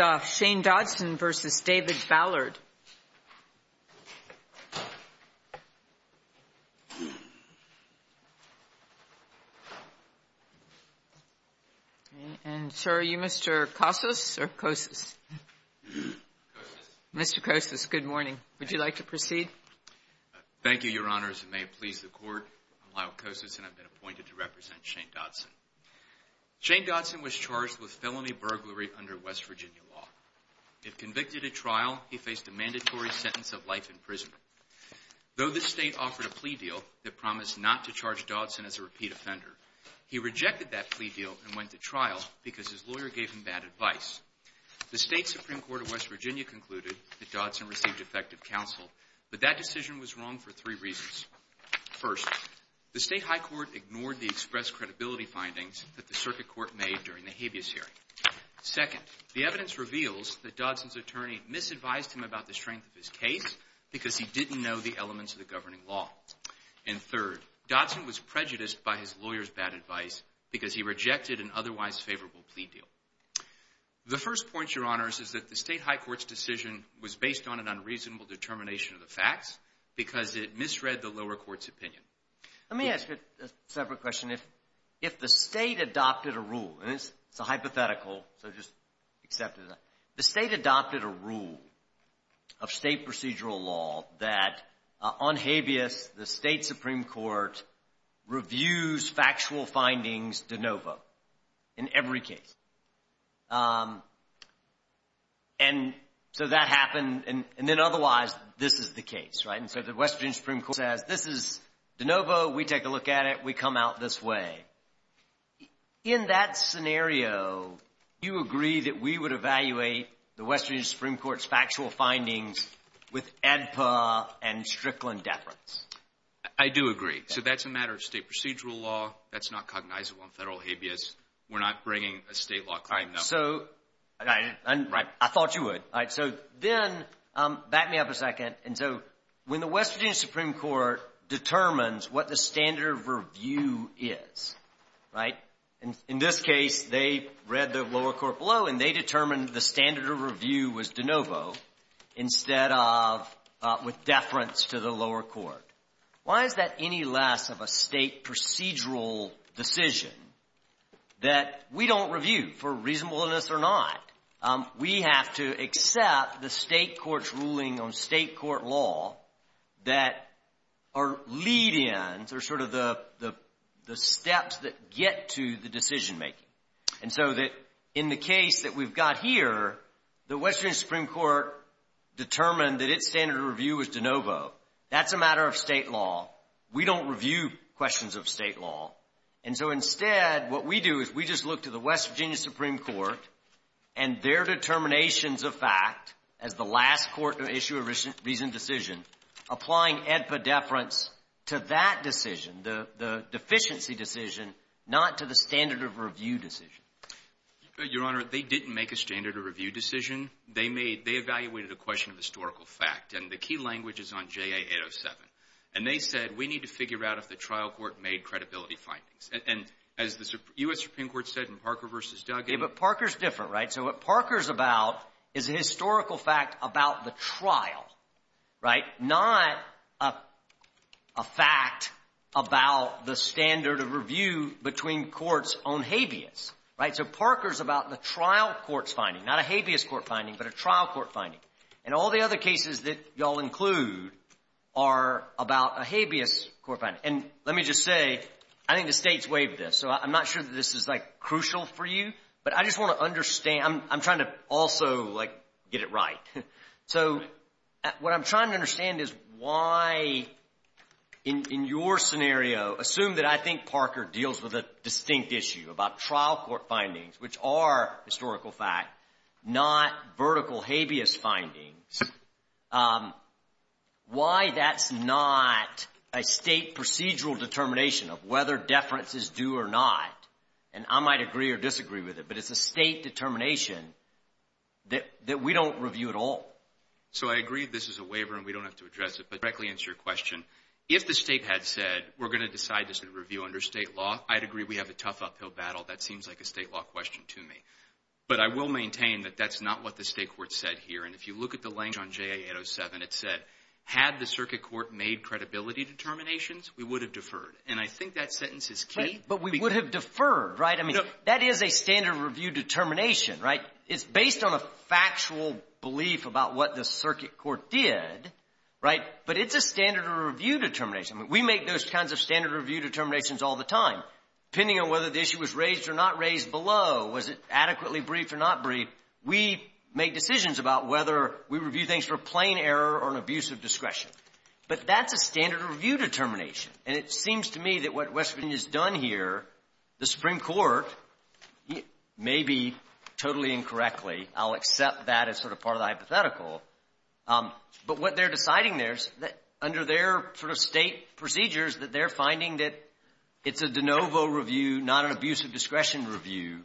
Thank you, Your Honors, and may it please the Court, I'm Lyle Kosas, and I've been appointed to represent Shane Dodson. Shane Dodson was charged with felony burglary under West Virginia law. If convicted at trial, he faced a mandatory sentence of life in prison. Though this State offered a plea deal that promised not to charge Dodson as a repeat offender, he rejected that plea deal and went to trial because his lawyer gave him bad advice. The State Supreme Court of West Virginia concluded that Dodson received effective counsel, but that decision was wrong for three reasons. First, the State High Court ignored the express credibility findings that the Circuit Court made during the habeas hearing. Second, the evidence reveals that Dodson's attorney misadvised him about the strength of his case because he didn't know the elements of the governing law. And third, Dodson was prejudiced by his lawyer's bad advice because he rejected an otherwise favorable plea deal. The first point, Your Honors, is that the State High Court's decision was based on an lower court's opinion. Let me ask you a separate question. If the State adopted a rule, and it's a hypothetical, so just accept it. The State adopted a rule of State procedural law that on habeas, the State Supreme Court reviews factual findings de novo in every case. And so that happened, and then otherwise, this is the case, right? And so the West Virginia Supreme Court says, this is de novo. We take a look at it. We come out this way. In that scenario, do you agree that we would evaluate the West Virginia Supreme Court's factual findings with ADPA and Strickland deference? I do agree. So that's a matter of State procedural law. That's not cognizable in federal habeas. We're not bringing a State law claim, no. Right. I thought you would. So then, back me up a second. And so when the West Virginia Supreme Court determines what the standard of review is, right, in this case, they read the lower court below, and they determined the standard of review was de novo instead of with deference to the lower court. Why is that any less of a State procedural decision that we don't review for reasonableness or not? We have to accept the State court's ruling on State court law that are lead-ins or sort of the steps that get to the decision making. And so that in the case that we've got here, the West Virginia Supreme Court determined that its standard of review was de novo. That's a matter of State law. We don't review questions of State law. And so instead, what we do is we just look to the West Virginia Supreme Court and their determinations of fact as the last court to issue a reasoned decision, applying edpa deference to that decision, the deficiency decision, not to the standard of review decision. Your Honor, they didn't make a standard of review decision. They made they evaluated a question of historical fact. And the key language is on JA 807. And they said, we need to figure out if the trial court made credibility findings. And as the U.S. Supreme Court said in Parker v. Duggan — Yeah, but Parker's different, right? So what Parker's about is a historical fact about the trial, right? Not a fact about the standard of review between courts on habeas, right? So Parker's about the trial court's finding, not a habeas court finding, but a trial court finding. And all the other cases that y'all include are about a habeas court finding. And let me just say, I think the State's waived this. So I'm not sure that this is, like, crucial for you. But I just want to understand — I'm trying to also, like, get it right. So what I'm trying to understand is why, in your scenario, assume that I think Parker deals with a distinct issue about trial court findings, which are historical fact, not vertical habeas findings, why that's not a State procedural determination of whether deference is due or not. And I might agree or disagree with it, but it's a State determination that we don't review at all. So I agree this is a waiver, and we don't have to address it. But to directly answer your question, if the State had said, we're going to decide this in review under State law, I'd agree we have a tough uphill battle. That seems like a State law question to me. But I will maintain that that's not what the State court said here. And if you look at the language on JA807, it said, had the circuit court made credibility determinations, we would have deferred. And I think that sentence is key. But we would have deferred, right? I mean, that is a standard review determination, right? It's based on a factual belief about what the circuit court did, right? But it's a standard review determination. We make those kinds of standard review determinations all the time. Depending on whether the issue was raised or not raised below. Was it adequately briefed or not briefed? We make decisions about whether we review things for plain error or an abuse of discretion. But that's a standard review determination. And it seems to me that what West Virginia has done here, the Supreme Court, maybe totally incorrectly, I'll accept that as sort of part of the hypothetical. But what they're deciding there is that under their sort of State procedures, that they're finding that it's a de novo review, not an abuse of discretion review.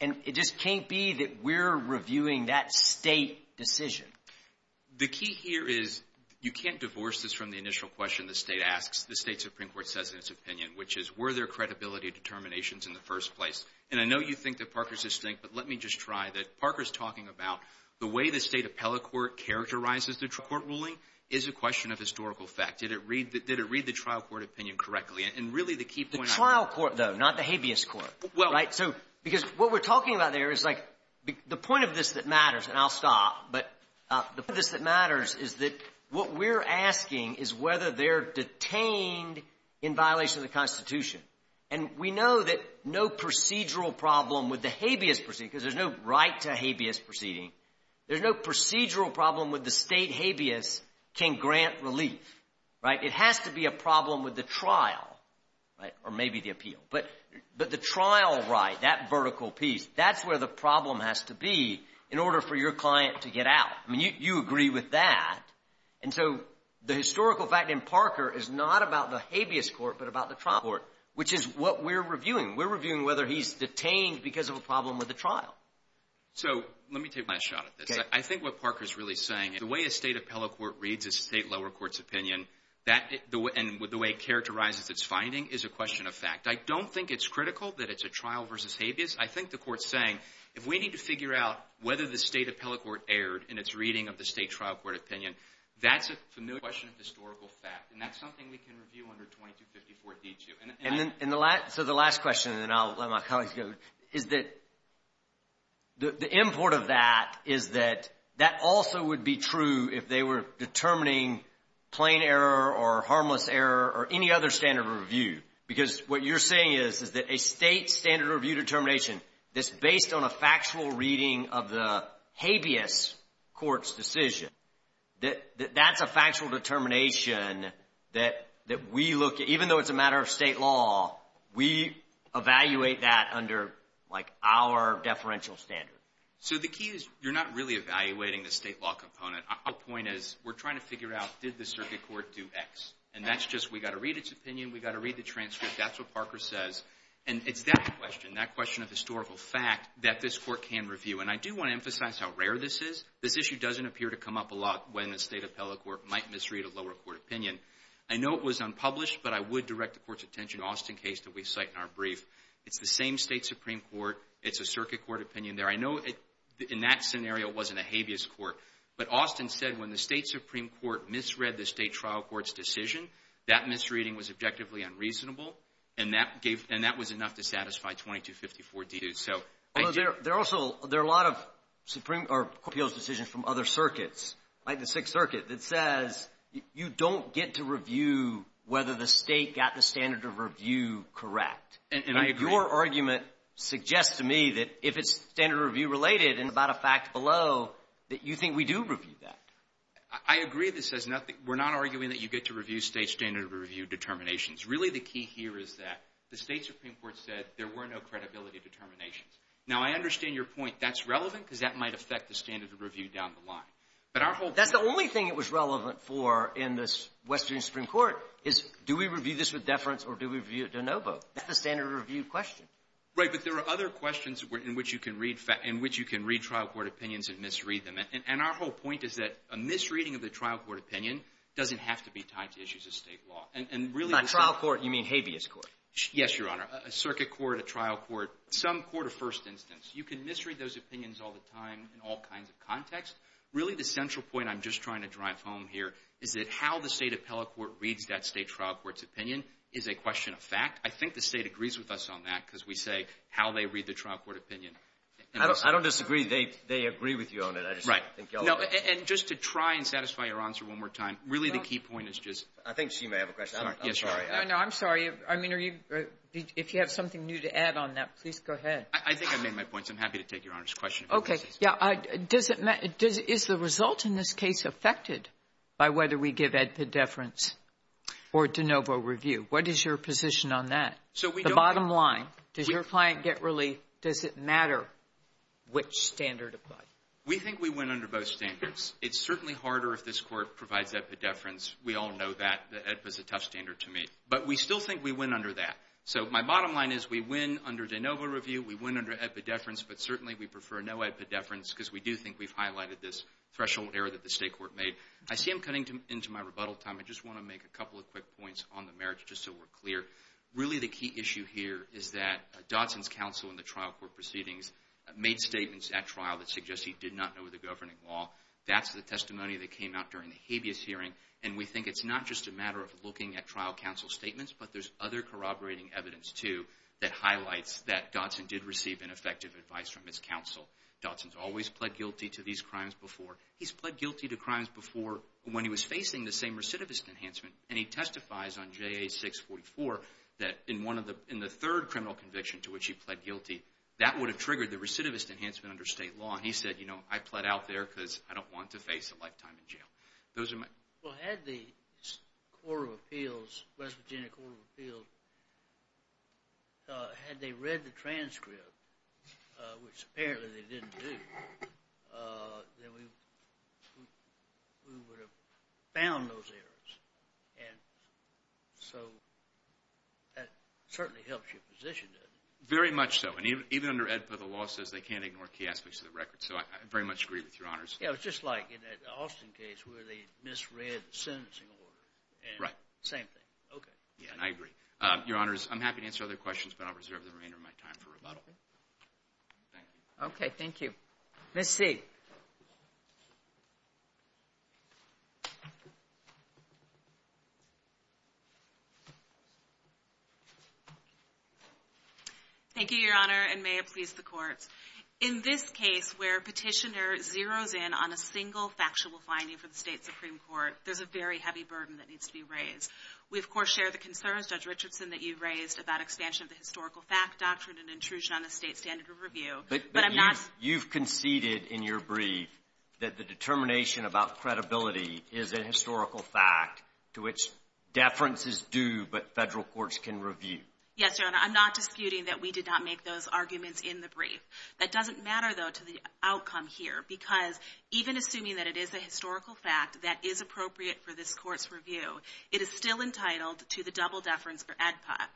And it just can't be that we're reviewing that State decision. The key here is, you can't divorce this from the initial question the State asks, the State Supreme Court says in its opinion, which is, were there credibility determinations in the first place? And I know you think that Parker's distinct, but let me just try that. Parker's talking about the way the State appellate court characterizes the court ruling is a question of historical fact. Did it read the trial court opinion correctly? And really, the key point I'm trying to make is the trial court, though, not the habeas court. Right? So because what we're talking about there is, like, the point of this that matters and I'll stop, but the point of this that matters is that what we're asking is whether they're detained in violation of the Constitution. And we know that no procedural problem with the habeas proceeding, because there's no right to a habeas proceeding, there's no procedural problem with the State habeas can grant relief. Right? It has to be a problem with the trial, right? Or maybe the appeal. But the trial right, that vertical piece, that's where the problem has to be in order for your client to get out. I mean, you agree with that. And so the historical fact in Parker is not about the habeas court, but about the trial court, which is what we're reviewing. We're reviewing whether he's detained because of a problem with the trial. So let me take my shot at this. I think what Parker's really saying, the way a State appellate court reads a State lower court's opinion, and the way it characterizes its finding, is a question of fact. I don't think it's critical that it's a trial versus habeas. I think the court's saying, if we need to figure out whether the State appellate court erred in its reading of the State trial court opinion, that's a familiar question of historical fact. And that's something we can review under 2254d2. And then in the last, so the last question, and then I'll let my colleagues go, is that the import of that is that that also would be true if they were determining plain error or harmless error or any other standard of review. Because what you're saying is, is that a State standard of review determination that's based on a factual reading of the habeas court's decision, that that's a factual determination that we look at, even though it's a matter of State law, we evaluate that under like our deferential standard. So the key is, you're not really evaluating the State law component. Our point is, we're trying to figure out, did the circuit court do X? And that's just, we've got to read its opinion, we've got to read the transcript, that's what Parker says. And it's that question, that question of historical fact, that this court can review. And I do want to emphasize how rare this is. This issue doesn't appear to come up a lot when the State appellate court might misread a lower court opinion. I know it was unpublished, but I would direct the court's attention to the Austin case that we cite in our brief. It's the same State Supreme Court, it's a circuit court opinion there. I know in that scenario it wasn't a habeas court, but Austin said when the State Supreme Court misread the State trial court's decision, that misreading was objectively unreasonable, and that was enough to satisfy 2254 D2. So I do. Well, there are also, there are a lot of Supreme Court appeals decisions from other circuits, like the Sixth Circuit, that says you don't get to review whether the State got the standard of review correct. And I agree. And your argument suggests to me that if it's standard of review related and about a fact below, that you think we do review that. I agree. This says nothing. We're not arguing that you get to review State standard of review determinations. Really the key here is that the State Supreme Court said there were no credibility determinations. Now I understand your point. That's relevant because that might affect the standard of review down the line. But our whole — That's the only thing it was relevant for in the Western Supreme Court, is do we review this with deference or do we review it de novo? That's the standard of review question. Right. But there are other questions in which you can read — in which you can read trial court opinions and misread them. And our whole point is that a misreading of the trial court opinion doesn't have to be tied to issues of State law. And really — By trial court, you mean habeas court. Yes, Your Honor. A circuit court, a trial court, some court of first instance. You can misread those opinions all the time in all kinds of contexts. Really the central point I'm just trying to drive home here is that how the State appellate court reads that State trial court's opinion is a question of fact. I think the State agrees with us on that because we say how they read the trial court opinion. I don't disagree. They agree with you on it. I just don't think y'all agree. Right. No, and just to try and satisfy your answer one more time, really the key point is just I think she may have a question. I'm sorry. I'm sorry. I know. I'm sorry. I mean, are you — if you have something new to add on that, please go ahead. I think I made my point. So I'm happy to take Your Honor's question. Okay. Yeah. Does it — is the result in this case affected by whether we give it a deference or de novo review? What is your position on that? So we don't — The bottom line. Does your client get relief? Does it matter which standard applied? We think we win under both standards. It's certainly harder if this Court provides epidefference. We all know that. The EDPA's a tough standard to meet. But we still think we win under that. So my bottom line is we win under de novo review. We win under epidefference. But certainly we prefer no epidefference because we do think we've highlighted this threshold error that the State court made. I see I'm cutting into my rebuttal time. I just want to make a couple of quick points on the merits just so we're clear. Really the key issue here is that Dodson's counsel in the trial court proceedings made statements at trial that suggest he did not know the governing law. That's the testimony that came out during the habeas hearing. And we think it's not just a matter of looking at trial counsel statements, but there's other corroborating evidence, too, that highlights that Dodson did receive ineffective advice from his counsel. Dodson's always pled guilty to these crimes before. He's pled guilty to crimes before when he was facing the same recidivist enhancement. And he testifies on JA 644 that in the third criminal conviction to which he pled guilty, that would have triggered the recidivist enhancement under State law. And he said, you know, I pled out there because I don't want to face a lifetime in jail. Those are my... Well, had the West Virginia Court of Appeals, had they read the transcript, which apparently they didn't do, then we would have found those errors. And so that certainly helps your position, doesn't it? Very much so. And even under AEDPA, the law says they can't ignore key aspects of the record. So I very much agree with Your Honors. Yeah, it was just like in that Austin case where they misread the sentencing order. Right. Same thing. Okay. Yeah, I agree. Your Honors, I'm happy to answer other questions, but I'll reserve the remainder of my time for rebuttal. Thank you. Okay. Thank you. Ms. Sieg. Thank you, Your Honor, and may it please the Courts. In this case where Petitioner zeroes in on a single factual finding for the State Supreme Court, there's a very heavy burden that needs to be raised. We of course share the concerns, Judge Richardson, that you raised about expansion of the historical fact doctrine and intrusion on the State standard of review, but I'm not. You've conceded in your brief that the determination about credibility is a historical fact to which deference is due, but Federal courts can review. Yes, Your Honor. I'm not disputing that we did not make those arguments in the brief. That doesn't matter, though, to the outcome here, because even assuming that it is a historical fact that is appropriate for this Court's review, it is still entitled to the double deference for AEDPA.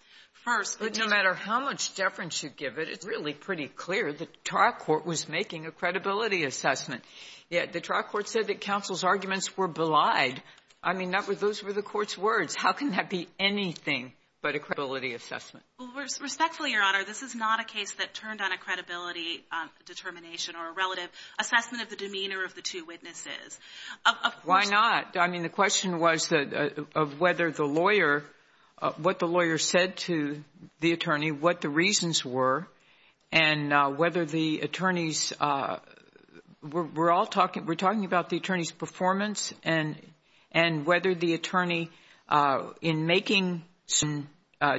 But no matter how much deference you give it, it's really pretty clear the TARC Court was making a credibility assessment, yet the TARC Court said that counsel's arguments were belied. I mean, those were the Court's words. How can that be anything but a credibility assessment? Respectfully, Your Honor, this is not a case that turned on a credibility determination or a relative assessment of the demeanor of the two witnesses. Why not? I mean, the question was of whether the lawyer — what the lawyer said to the attorney, what the reasons were, and whether the attorney's — we're all talking — we're talking about the attorney's performance and whether the attorney, in making some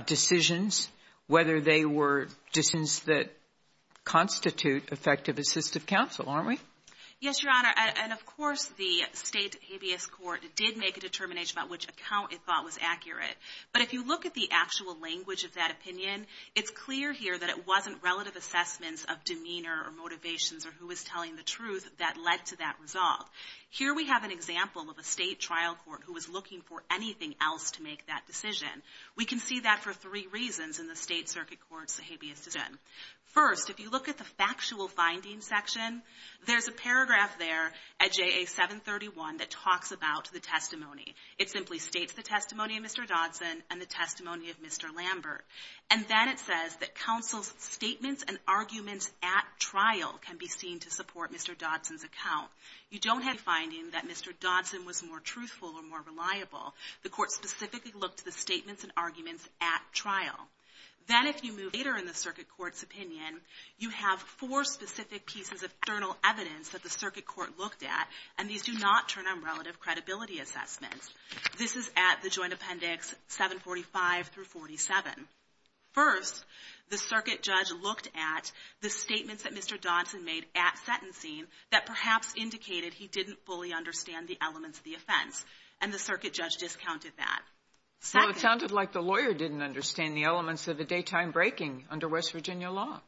decisions, whether they were decisions that constitute effective assistive counsel, aren't we? Yes, Your Honor. And, of course, the State Habeas Court did make a determination about which account it thought was accurate. But if you look at the actual language of that opinion, it's clear here that it wasn't relative assessments of demeanor or motivations or who was telling the truth that led to that resolve. Here we have an example of a State trial court who was looking for anything else to make that decision. We can see that for three reasons in the State Circuit Court's Habeas decision. First, if you look at the factual findings section, there's a paragraph there at JA 731 that talks about the testimony. It simply states the testimony of Mr. Dodson and the testimony of Mr. Lambert. And then it says that counsel's statements and arguments at trial can be seen to support Mr. Dodson's account. You don't have any finding that Mr. Dodson was more truthful or more reliable. The court specifically looked at the statements and arguments at trial. Then if you move later in the Circuit Court's opinion, you have four specific pieces of external evidence that the Circuit Court looked at, and these do not turn on relative credibility assessments. This is at the Joint Appendix 745 through 47. First, the Circuit Judge looked at the statements that Mr. Dodson made at sentencing that perhaps indicated he didn't fully understand the elements of the offense, and the Circuit Judge discounted that. Second. Well, it sounded like the lawyer didn't understand the elements of a daytime breaking under West Virginia law.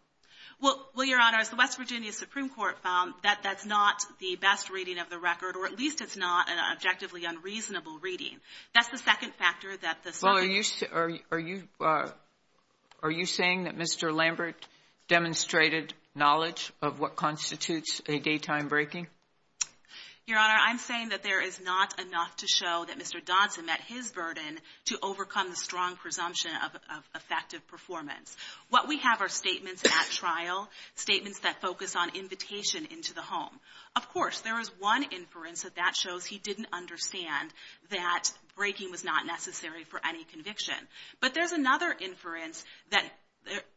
Well, Your Honor, as the West Virginia Supreme Court found, that that's not the best reading of the record, or at least it's not an objectively unreasonable reading. That's the second factor that the Circuit Judge — Well, are you saying that Mr. Lambert demonstrated knowledge of what constitutes a daytime breaking? Your Honor, I'm saying that there is not enough to show that Mr. Dodson met his burden to overcome the strong presumption of effective performance. What we have are statements at trial, statements that focus on invitation into the home. Of course, there is one inference that that shows he didn't understand that breaking was not necessary for any conviction. But there's another inference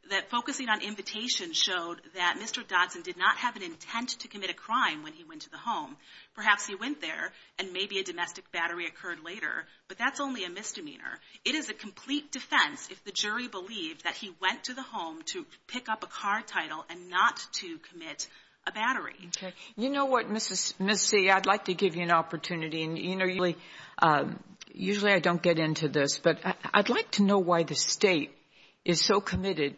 that focusing on invitation showed that Mr. Dodson did not have an intent to commit a crime when he went to the home. Perhaps he went there, and maybe a domestic battery occurred later, but that's only a misdemeanor. It is a complete defense if the jury believed that he went to the home to pick up a car title and not to commit a battery. Okay. You know what, Ms. C., I'd like to give you an opportunity, and, you know, usually I don't get into this, but I'd like to know why the State is so committed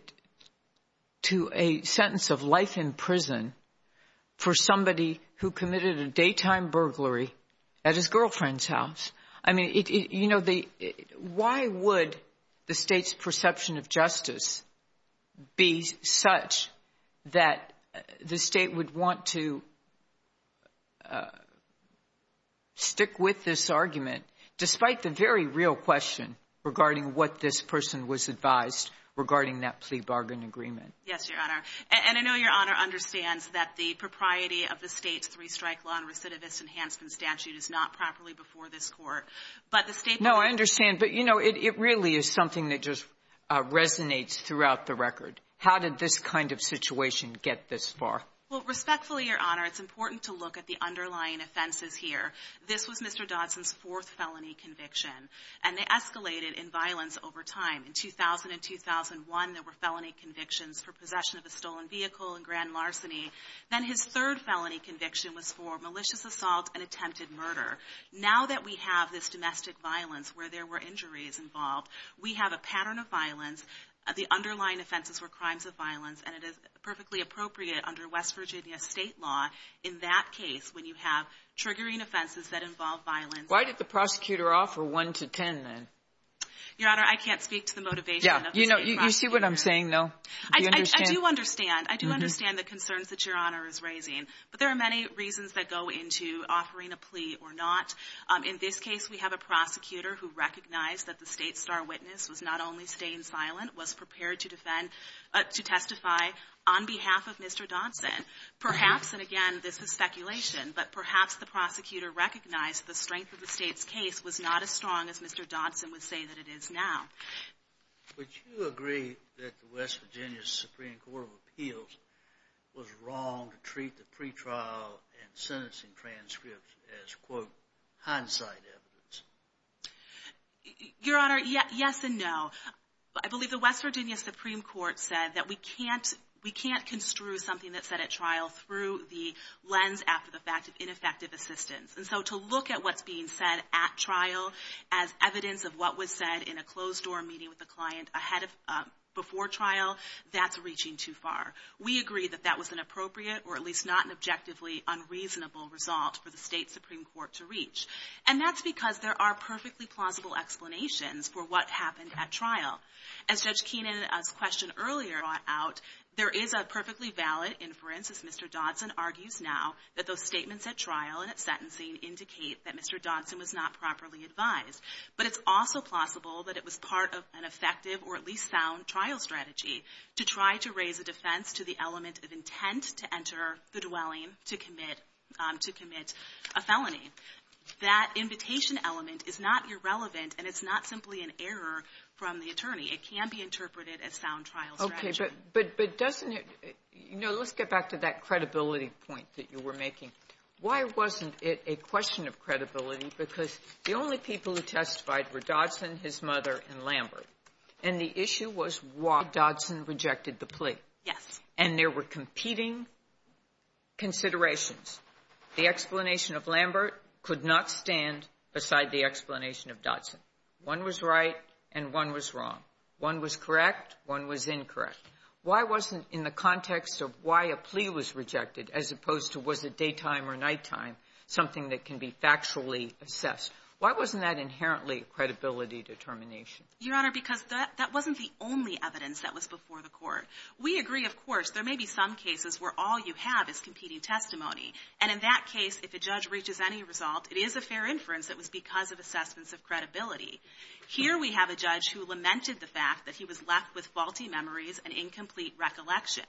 to a sentence of life in prison for somebody who committed a daytime burglary at his girlfriend's house. I mean, you know, why would the State's perception of justice be such that the State would want to stick with this argument, despite the very real question regarding what this person was advised regarding that plea bargain agreement? Yes, Your Honor. And I know Your Honor understands that the propriety of the State's three-strike law and recidivist enhancement statute is not properly before this Court, but the State No, I understand. But, you know, it really is something that just resonates throughout the record. How did this kind of situation get this far? Well, respectfully, Your Honor, it's important to look at the underlying offenses here. This was Mr. Dodson's fourth felony conviction, and they escalated in violence over time. In 2000 and 2001, there were felony convictions for possession of a stolen vehicle and grand larceny. Then his third felony conviction was for malicious assault and attempted murder. Now that we have this domestic violence where there were injuries involved, we have a pattern of violence, the underlying offenses were crimes of violence, and it is perfectly appropriate under West Virginia State law in that case when you have triggering offenses that involve violence. Why did the prosecutor offer 1 to 10, then? Your Honor, I can't speak to the motivation of the State prosecutor. Yeah. You know, you see what I'm saying, though. Do you understand? I do understand. I do understand the concerns that Your Honor is raising. But there are many reasons that go into offering a plea or not. In this case, we have a prosecutor who recognized that the State's star witness was not only staying silent, was prepared to defend, to testify on behalf of Mr. Dodson. Perhaps, and again, this is speculation, but perhaps the prosecutor recognized the strength of the State's case was not as strong as Mr. Dodson would say that it is now. Would you agree that the West Virginia Supreme Court of Appeals was wrong to treat the pretrial and sentencing transcripts as, quote, hindsight evidence? Your Honor, yes and no. I believe the West Virginia Supreme Court said that we can't construe something that said at trial through the lens after the fact of ineffective assistance. And so to look at what's being said at trial as evidence of what was said in a closed-door meeting with a client ahead of, before trial, that's reaching too far. We agree that that was an appropriate or at least not an objectively unreasonable result for the State Supreme Court to reach. And that's because there are perfectly plausible explanations for what happened at trial. As Judge Keenan's question earlier brought out, there is a perfectly valid inference as Mr. Dodson argues now that those statements at trial and at sentencing indicate that Mr. Dodson was not properly advised. But it's also plausible that it was part of an effective or at least sound trial strategy to try to raise a defense to the element of intent to enter the dwelling to commit a felony. That invitation element is not irrelevant and it's not simply an error from the attorney. It can be interpreted as sound trial strategy. But doesn't it, you know, let's get back to that credibility point that you were making. Why wasn't it a question of credibility? Because the only people who testified were Dodson, his mother, and Lambert. And the issue was why Dodson rejected the plea. Yes. And there were competing considerations. The explanation of Lambert could not stand beside the explanation of Dodson. One was right and one was wrong. One was correct, one was incorrect. Why wasn't in the context of why a plea was rejected as opposed to was it daytime or nighttime something that can be factually assessed? Why wasn't that inherently credibility determination? Your Honor, because that wasn't the only evidence that was before the court. We agree, of course, there may be some cases where all you have is competing testimony. And in that case, if a judge reaches any result, it is a fair inference that was because of assessments of credibility. Here we have a judge who lamented the fact that he was left with faulty memories and incomplete recollection.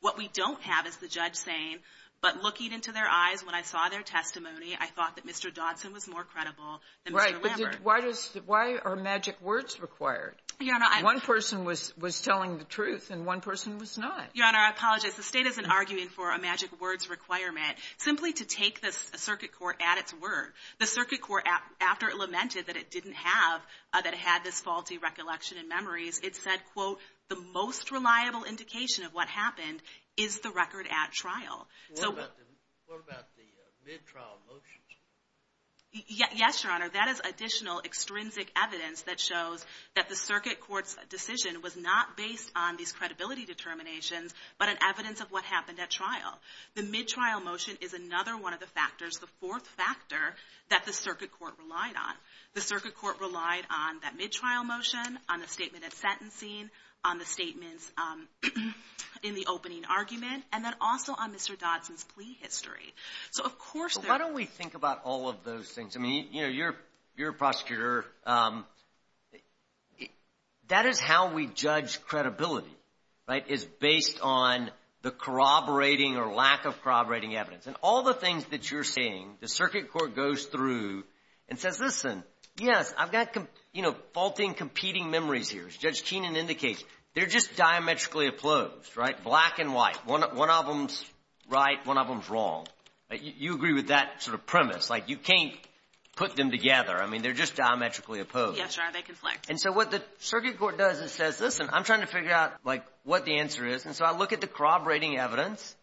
What we don't have is the judge saying, but looking into their eyes when I saw their testimony, I thought that Mr. Dodson was more credible than Mr. Lambert. Right. But why are magic words required? Your Honor, I'm — One person was telling the truth and one person was not. Your Honor, I apologize. The State isn't arguing for a magic words requirement. Simply to take the circuit court at its word. The circuit court, after it lamented that it didn't have — that it had this faulty recollection and memories, it said, quote, the most reliable indication of what happened is the record at trial. What about the mid-trial motions? Yes, Your Honor, that is additional extrinsic evidence that shows that the circuit court's decision was not based on these credibility determinations, but an evidence of what happened at trial. The mid-trial motion is another one of the factors, the fourth factor that the circuit court relied on. The circuit court relied on that mid-trial motion, on the statement of sentencing, on the statements in the opening argument, and then also on Mr. Dodson's plea history. So, of course — Well, why don't we think about all of those things? I mean, you know, you're a prosecutor. That is how we judge credibility, right? Is based on the corroborating or lack of corroborating evidence. And all the things that you're saying, the circuit court goes through and says, listen, yes, I've got, you know, faulty and competing memories here. As Judge Keenan indicates, they're just diametrically opposed, right? Black and white. One of them's right, one of them's wrong. You agree with that sort of premise. Like, you can't put them together. I mean, they're just diametrically opposed. Yes, sir, they conflict. And so what the circuit court does is says, listen, I'm trying to figure out, like, what the answer is, and so I look at the corroborating evidence,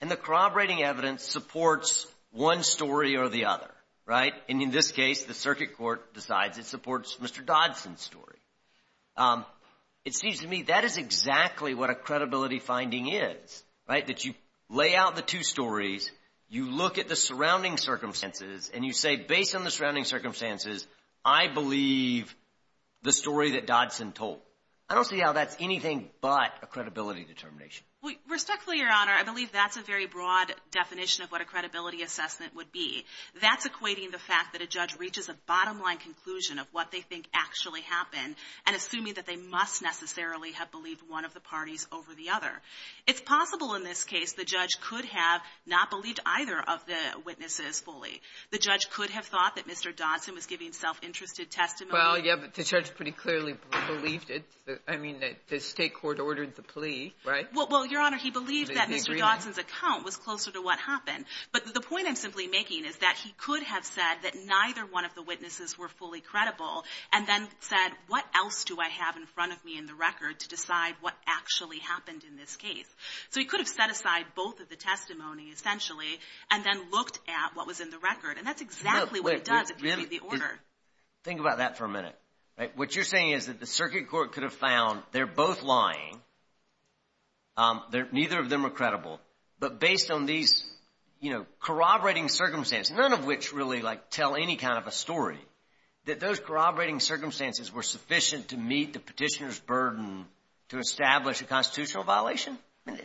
and the corroborating evidence supports one story or the other, right? And in this case, the circuit court decides it supports Mr. Dodson's story. It seems to me that is exactly what a credibility finding is, right? That you lay out the two stories, you look at the surrounding circumstances, and you say, based on the surrounding circumstances, I believe the story that Dodson told. I don't see how that's anything but a credibility determination. Respectfully, Your Honor, I believe that's a very broad definition of what a credibility assessment would be. That's equating the fact that a judge reaches a bottom-line conclusion of what they think actually happened, and assuming that they must necessarily have believed one of the parties over the other. It's possible in this case the judge could have not believed either of the witnesses fully. The judge could have thought that Mr. Dodson was giving self-interested testimony. Well, yeah, but the judge pretty clearly believed it. I mean, the state court ordered the plea, right? Well, Your Honor, he believed that Mr. Dodson's account was closer to what happened. But the point I'm simply making is that he could have said that neither one of the witnesses were fully credible, and then said, what else do I have in front of me in the record to decide what actually happened in this case? So he could have set aside both of the testimony, essentially, and then looked at what was in the record. And that's exactly what he does if you see the order. Think about that for a minute. What you're saying is that the circuit court could have found they're both lying, neither of them are credible, but based on these corroborating circumstances, none of which really tell any kind of a story, that those corroborating circumstances were sufficient to meet the petitioner's burden to establish a constitutional violation?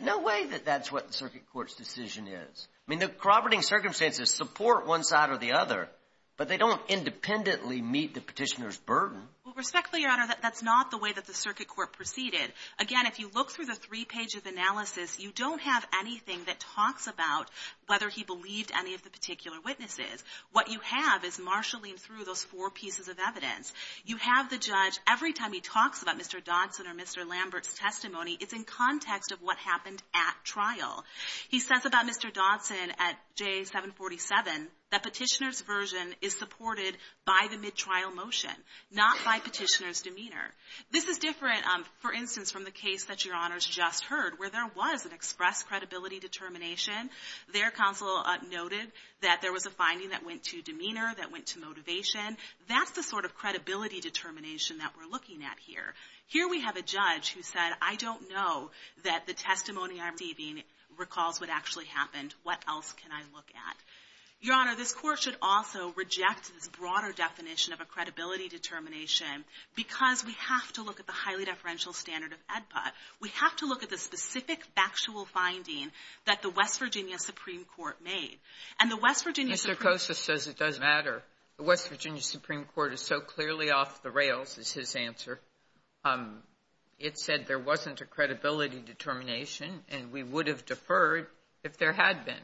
No way that that's what the circuit court's decision is. I mean, the corroborating circumstances support one side or the other, but they don't independently meet the petitioner's burden. Well, respectfully, Your Honor, that's not the way that the circuit court proceeded. Again, if you look through the three page of analysis, you don't have anything that talks about whether he believed any of the particular witnesses. What you have is marshalling through those four pieces of evidence. You have the judge, every time he talks about Mr. Dodson or Mr. Lambert's testimony, it's in context of what happened at trial. He says about Mr. Dodson at J747, that petitioner's version is supported by the mid-trial motion, not by petitioner's demeanor. This is different, for instance, from the case that Your Honor's just heard, where there was an express credibility determination. Their counsel noted that there was a finding that went to demeanor, that went to motivation. That's the sort of credibility determination that we're looking at here. Here we have a judge who said, I don't know that the testimony I'm receiving recalls what actually happened. What else can I look at? Your Honor, this Court should also reject this broader definition of a credibility determination because we have to look at the highly deferential standard of AEDPA. We have to look at the specific factual finding that the West Virginia Supreme Court made. And the West Virginia Supreme Court Mr. Kosa says it doesn't matter. The West Virginia Supreme Court is so clearly off the rails, is his answer. It said there wasn't a credibility determination and we would have deferred if there had been.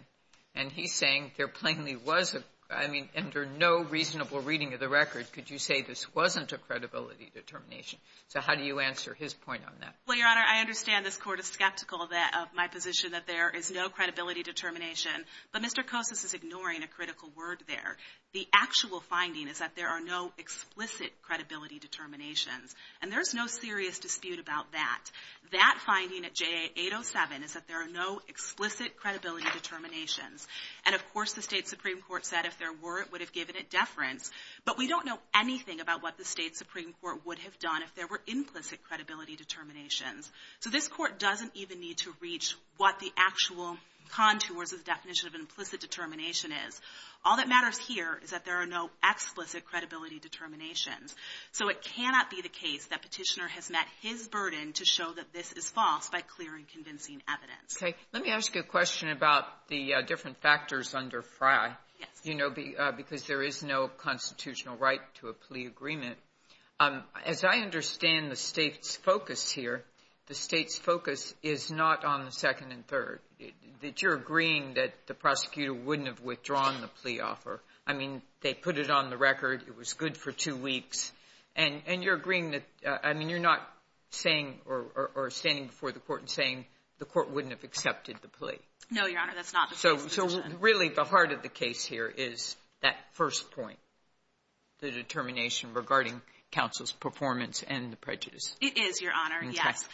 And he's saying there plainly was a, I mean, under no reasonable reading of the record could you say this wasn't a credibility determination. So how do you answer his point on that? Well, Your Honor, I understand this Court is skeptical of my position that there is no credibility determination. But Mr. Kosa is ignoring a critical word there. The actual finding is that there are no explicit credibility determinations. And there's no serious dispute about that. That finding at JA 807 is that there are no explicit credibility determinations. And of course the state Supreme Court said if there were it would have given it deference. But we don't know anything about what the state Supreme Court would have done if there were implicit credibility determinations. So this Court doesn't even need to reach what the actual contours of the definition of implicit determination is. All that matters here is that there are no explicit credibility determinations. So it cannot be the case that Petitioner has met his burden to show that this is false by clear and convincing evidence. Okay. Let me ask you a question about the different factors under Frye. Yes. Because there is no constitutional right to a plea agreement. As I understand the state's focus here, the state's focus is not on the second and third. That you're agreeing that the prosecutor wouldn't have withdrawn the plea offer. I mean, they put it on the record it was good for two weeks. And you're agreeing that, I mean, you're not saying or standing before the Court and saying the Court wouldn't have accepted the plea. No, Your Honor, that's not the case. So really the heart of the case here is that first point. The determination regarding counsel's performance and the prejudice. It is, Your Honor, yes.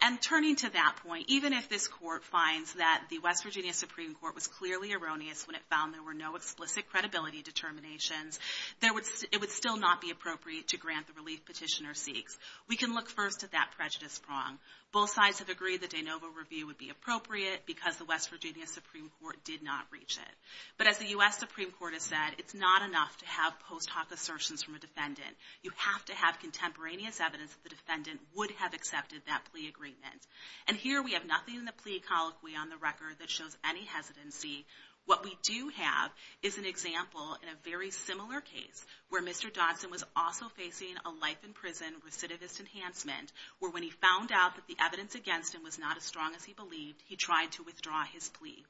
And turning to that point, even if this Court finds that the West Virginia Supreme Court was clearly erroneous when it found there were no explicit credibility determinations, it would still not be appropriate to grant the relief petitioner seeks. We can look first at that prejudice prong. Both sides have agreed that de novo review would be appropriate because the West Virginia Supreme Court did not reach it. But as the U.S. Supreme Court has said, it's not enough to have post hoc assertions from a defendant. You have to have contemporaneous evidence that the defendant would have accepted that plea agreement. And here we have nothing in the plea colloquy on the record that shows any hesitancy. What we do have is an example in a very similar case where Mr. Dodson was also facing a life in prison recidivist enhancement where when he found out that the evidence against him was not as strong as he believed, he tried to withdraw his plea.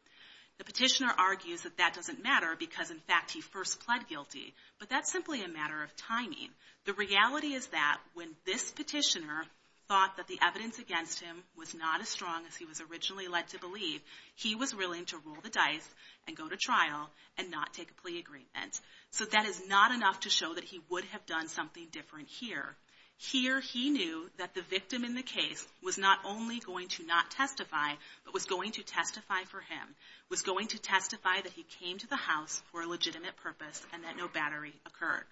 The petitioner argues that that doesn't matter because in fact he first pled guilty. But that's simply a matter of timing. The reality is that when this petitioner thought that the evidence against him was not as strong as he was originally led to believe, he was willing to roll the dice and go to trial and not take a plea agreement. So that is not enough to show that he would have done something different here. Here he knew that the victim in the case was not only going to not testify but was going to testify for him. Was going to testify that he came to the house for a legitimate purpose and that no battery occurred.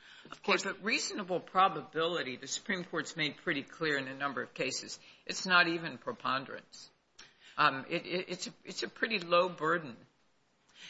But reasonable probability the Supreme Court's made pretty clear in a number of cases. It's not even preponderance. It's a pretty low burden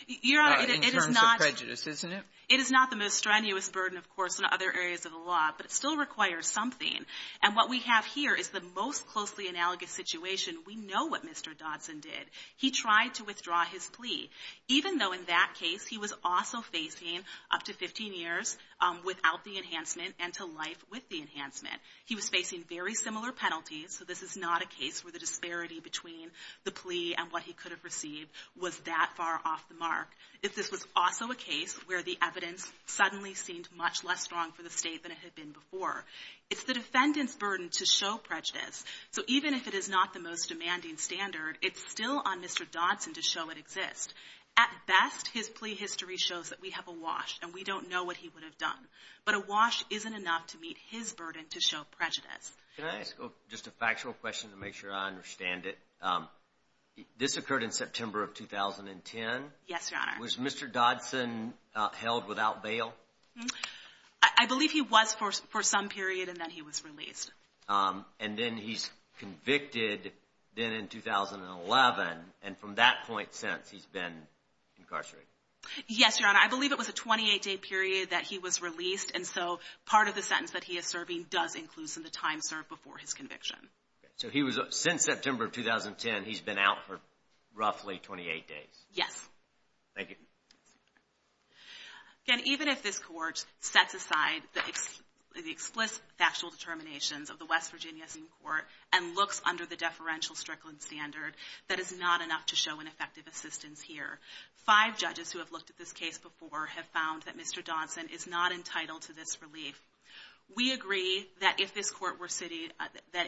in terms of prejudice, isn't it? It is not the most strenuous burden of course in other areas of the law but it still requires something and what we have here is the most closely analogous situation. We know what Mr. Dodson did. He tried to withdraw his plea even though in that case he was also facing up to 15 years without the enhancement and to life with the enhancement. He was facing very similar penalties so this is not a case where the disparity between the plea and what he could have received was that far off the mark. If this was also a case where the evidence suddenly seemed much less strong for the state than it had been before it's the defendant's burden to show prejudice so even if it is not the most demanding standard, it's still on Mr. Dodson to show it exists. At best, his plea history shows that we have awash and we don't know what he would have done but awash isn't enough to meet his burden to show prejudice. Can I ask just a factual question to make sure I understand it? This occurred in September of 2010. Yes, Your Honor. Was Mr. Dodson held without bail? I believe he was for some period and then he was released. And then he's convicted then in 2011 and from that point since he's been incarcerated. Yes, Your Honor. I believe it was a 28 day period that he was released and so part of the sentence that he is serving does include some of the time served before his conviction. So since September of 2010 he's been out for roughly 28 days? Yes. Thank you. Again, even if this Court sets aside the explicit factual determinations of the West Virginia Supreme Court and looks under the deferential Strickland standard, that is not enough to show an effective assistance here. Five judges who have looked at this case before have found that Mr. Dodson is not entitled to this relief. We agree that if this Court were sitting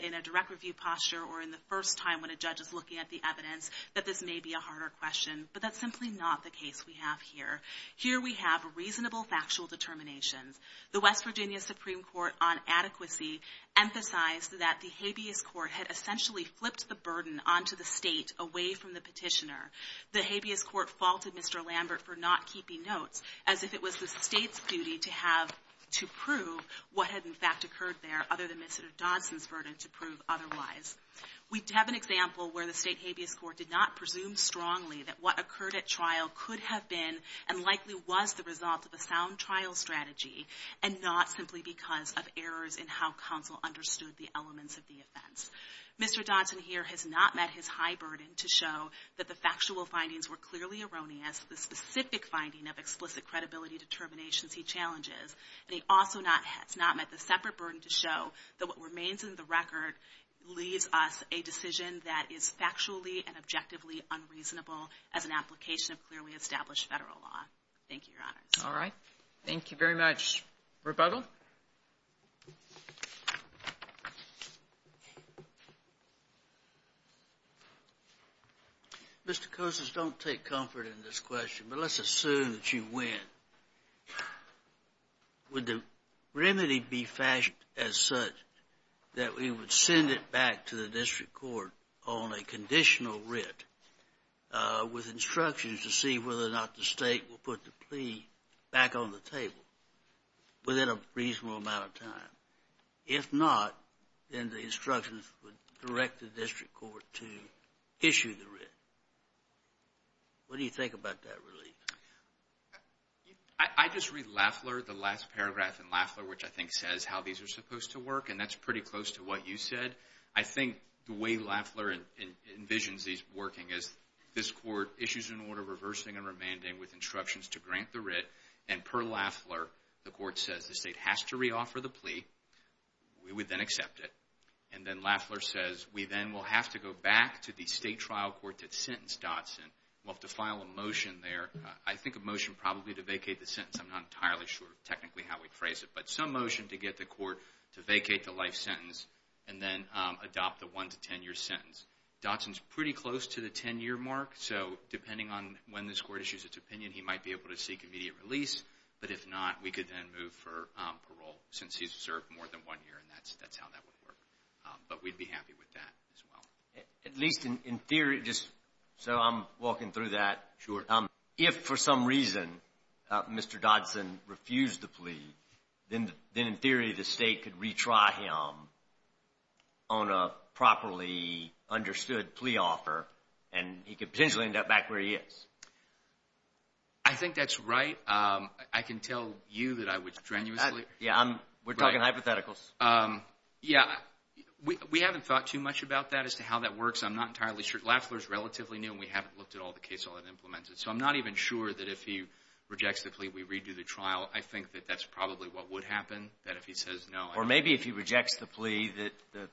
in a direct review posture or in the first time when a judge is looking at the evidence that this may be a harder question, but that's simply not the case we have here. Here we have reasonable factual determinations. The West Virginia Supreme Court on adequacy emphasized that the habeas court had essentially flipped the burden onto the state away from the petitioner. The habeas court faulted Mr. Lambert for not keeping notes as if it was the state's duty to have to prove what had in fact occurred there other than Mr. Dodson's burden to prove otherwise. We have an example where the state habeas court did not presume strongly that what occurred at trial could have been and likely was the result of a sound trial strategy and not simply because of errors in how counsel understood the elements of the offense. Mr. Dodson here has not met his high burden to show that the factual findings were clearly erroneous the specific finding of explicit credibility determinations he challenges and he also has not met the separate burden to show that what remains in the record leaves us a decision that is factually and objectively unreasonable as an application of clearly established federal law. Thank you, Your Honors. Thank you very much. Rebuttal? Mr. Cousins, don't take comfort in this question, but let's assume that you win. Would the remedy be fashioned as such that we would send it back to the district court on a conditional writ with instructions to see whether or not the state would put the plea back on the table within a reasonable amount of time? If not, then the instructions would direct the district court to issue the writ. What do you think about that relief? I just read Lafleur, the last paragraph in Lafleur which I think says how these are supposed to work and that's pretty close to what you said. I think the way Lafleur envisions these working is this court issues an order reversing and remanding with instructions to grant the writ and per Lafleur, the court says the state has to re-offer the plea we would then accept it and then Lafleur says we then will have to go back to the state trial court to sentence Dotson. We'll have to file a motion there. I think a motion probably to vacate the sentence. I'm not entirely sure technically how we'd phrase it, but some motion to get the court to vacate the life sentence and then adopt the one to ten year sentence. Dotson's pretty close to the ten year mark so depending on when this court issues its opinion, he might be able to seek immediate release but if not, we could then move for parole since he's served more than but we'd be happy with that as well. At least in theory just so I'm walking through that. Sure. If for some reason Mr. Dotson refused the plea, then in theory the state could retry him on a properly understood plea offer and he could potentially end up back where he is. I think that's right I can tell you that I would strenuously. Yeah, we're talking hypotheticals. We haven't thought too much about that as to how that works. I'm not entirely sure. Lafler is relatively new and we haven't looked at all the cases that he implemented. So I'm not even sure that if he rejects the plea, we redo the trial I think that that's probably what would happen that if he says no. Or maybe if he rejects the plea that the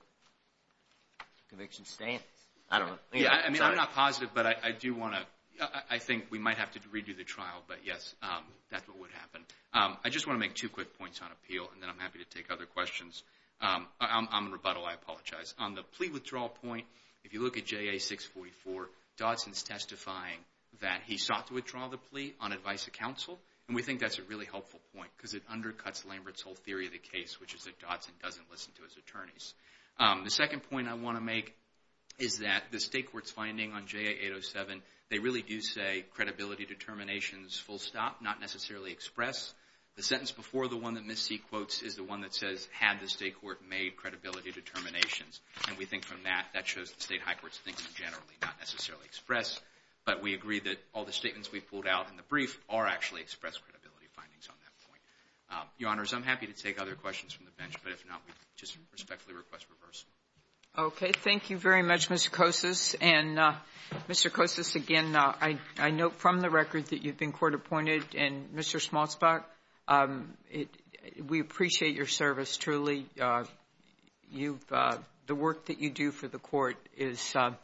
conviction stands. I'm not positive but I do want to, I think we might have to redo the trial, but yes that's what would happen. I just want to make two quick points on appeal and then I'm happy to take other questions. I'm in rebuttal I apologize. On the plea withdrawal point if you look at JA 644 Dotson's testifying that he sought to withdraw the plea on advice of counsel and we think that's a really helpful point because it undercuts Lambert's whole theory of the case which is that Dotson doesn't listen to his attorneys. The second point I want to make is that the state court's finding on JA 807 they really do say credibility determinations full stop, not necessarily express. The sentence before the one that Ms. C quotes is the one that says had the state court made credibility determinations. And we think from that, that shows the state high court's thinking generally, not necessarily express. But we agree that all the statements we pulled out in the brief are actually expressed credibility findings on that point. Your Honors, I'm happy to take other questions from the bench but if not we just respectfully request reverse. Okay. Thank you very much Mr. Kosis and Mr. Kosis again I note from the record that you've been court appointed and Mr. Smallsback we appreciate your service truly you've the work that you do for the court is something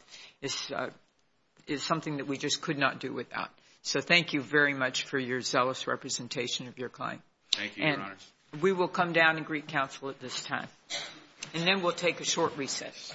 that we just could not do without so thank you very much for your zealous representation of your kind Thank you, Your Honors. And we will come down and greet counsel at this time and then we'll take a short recess.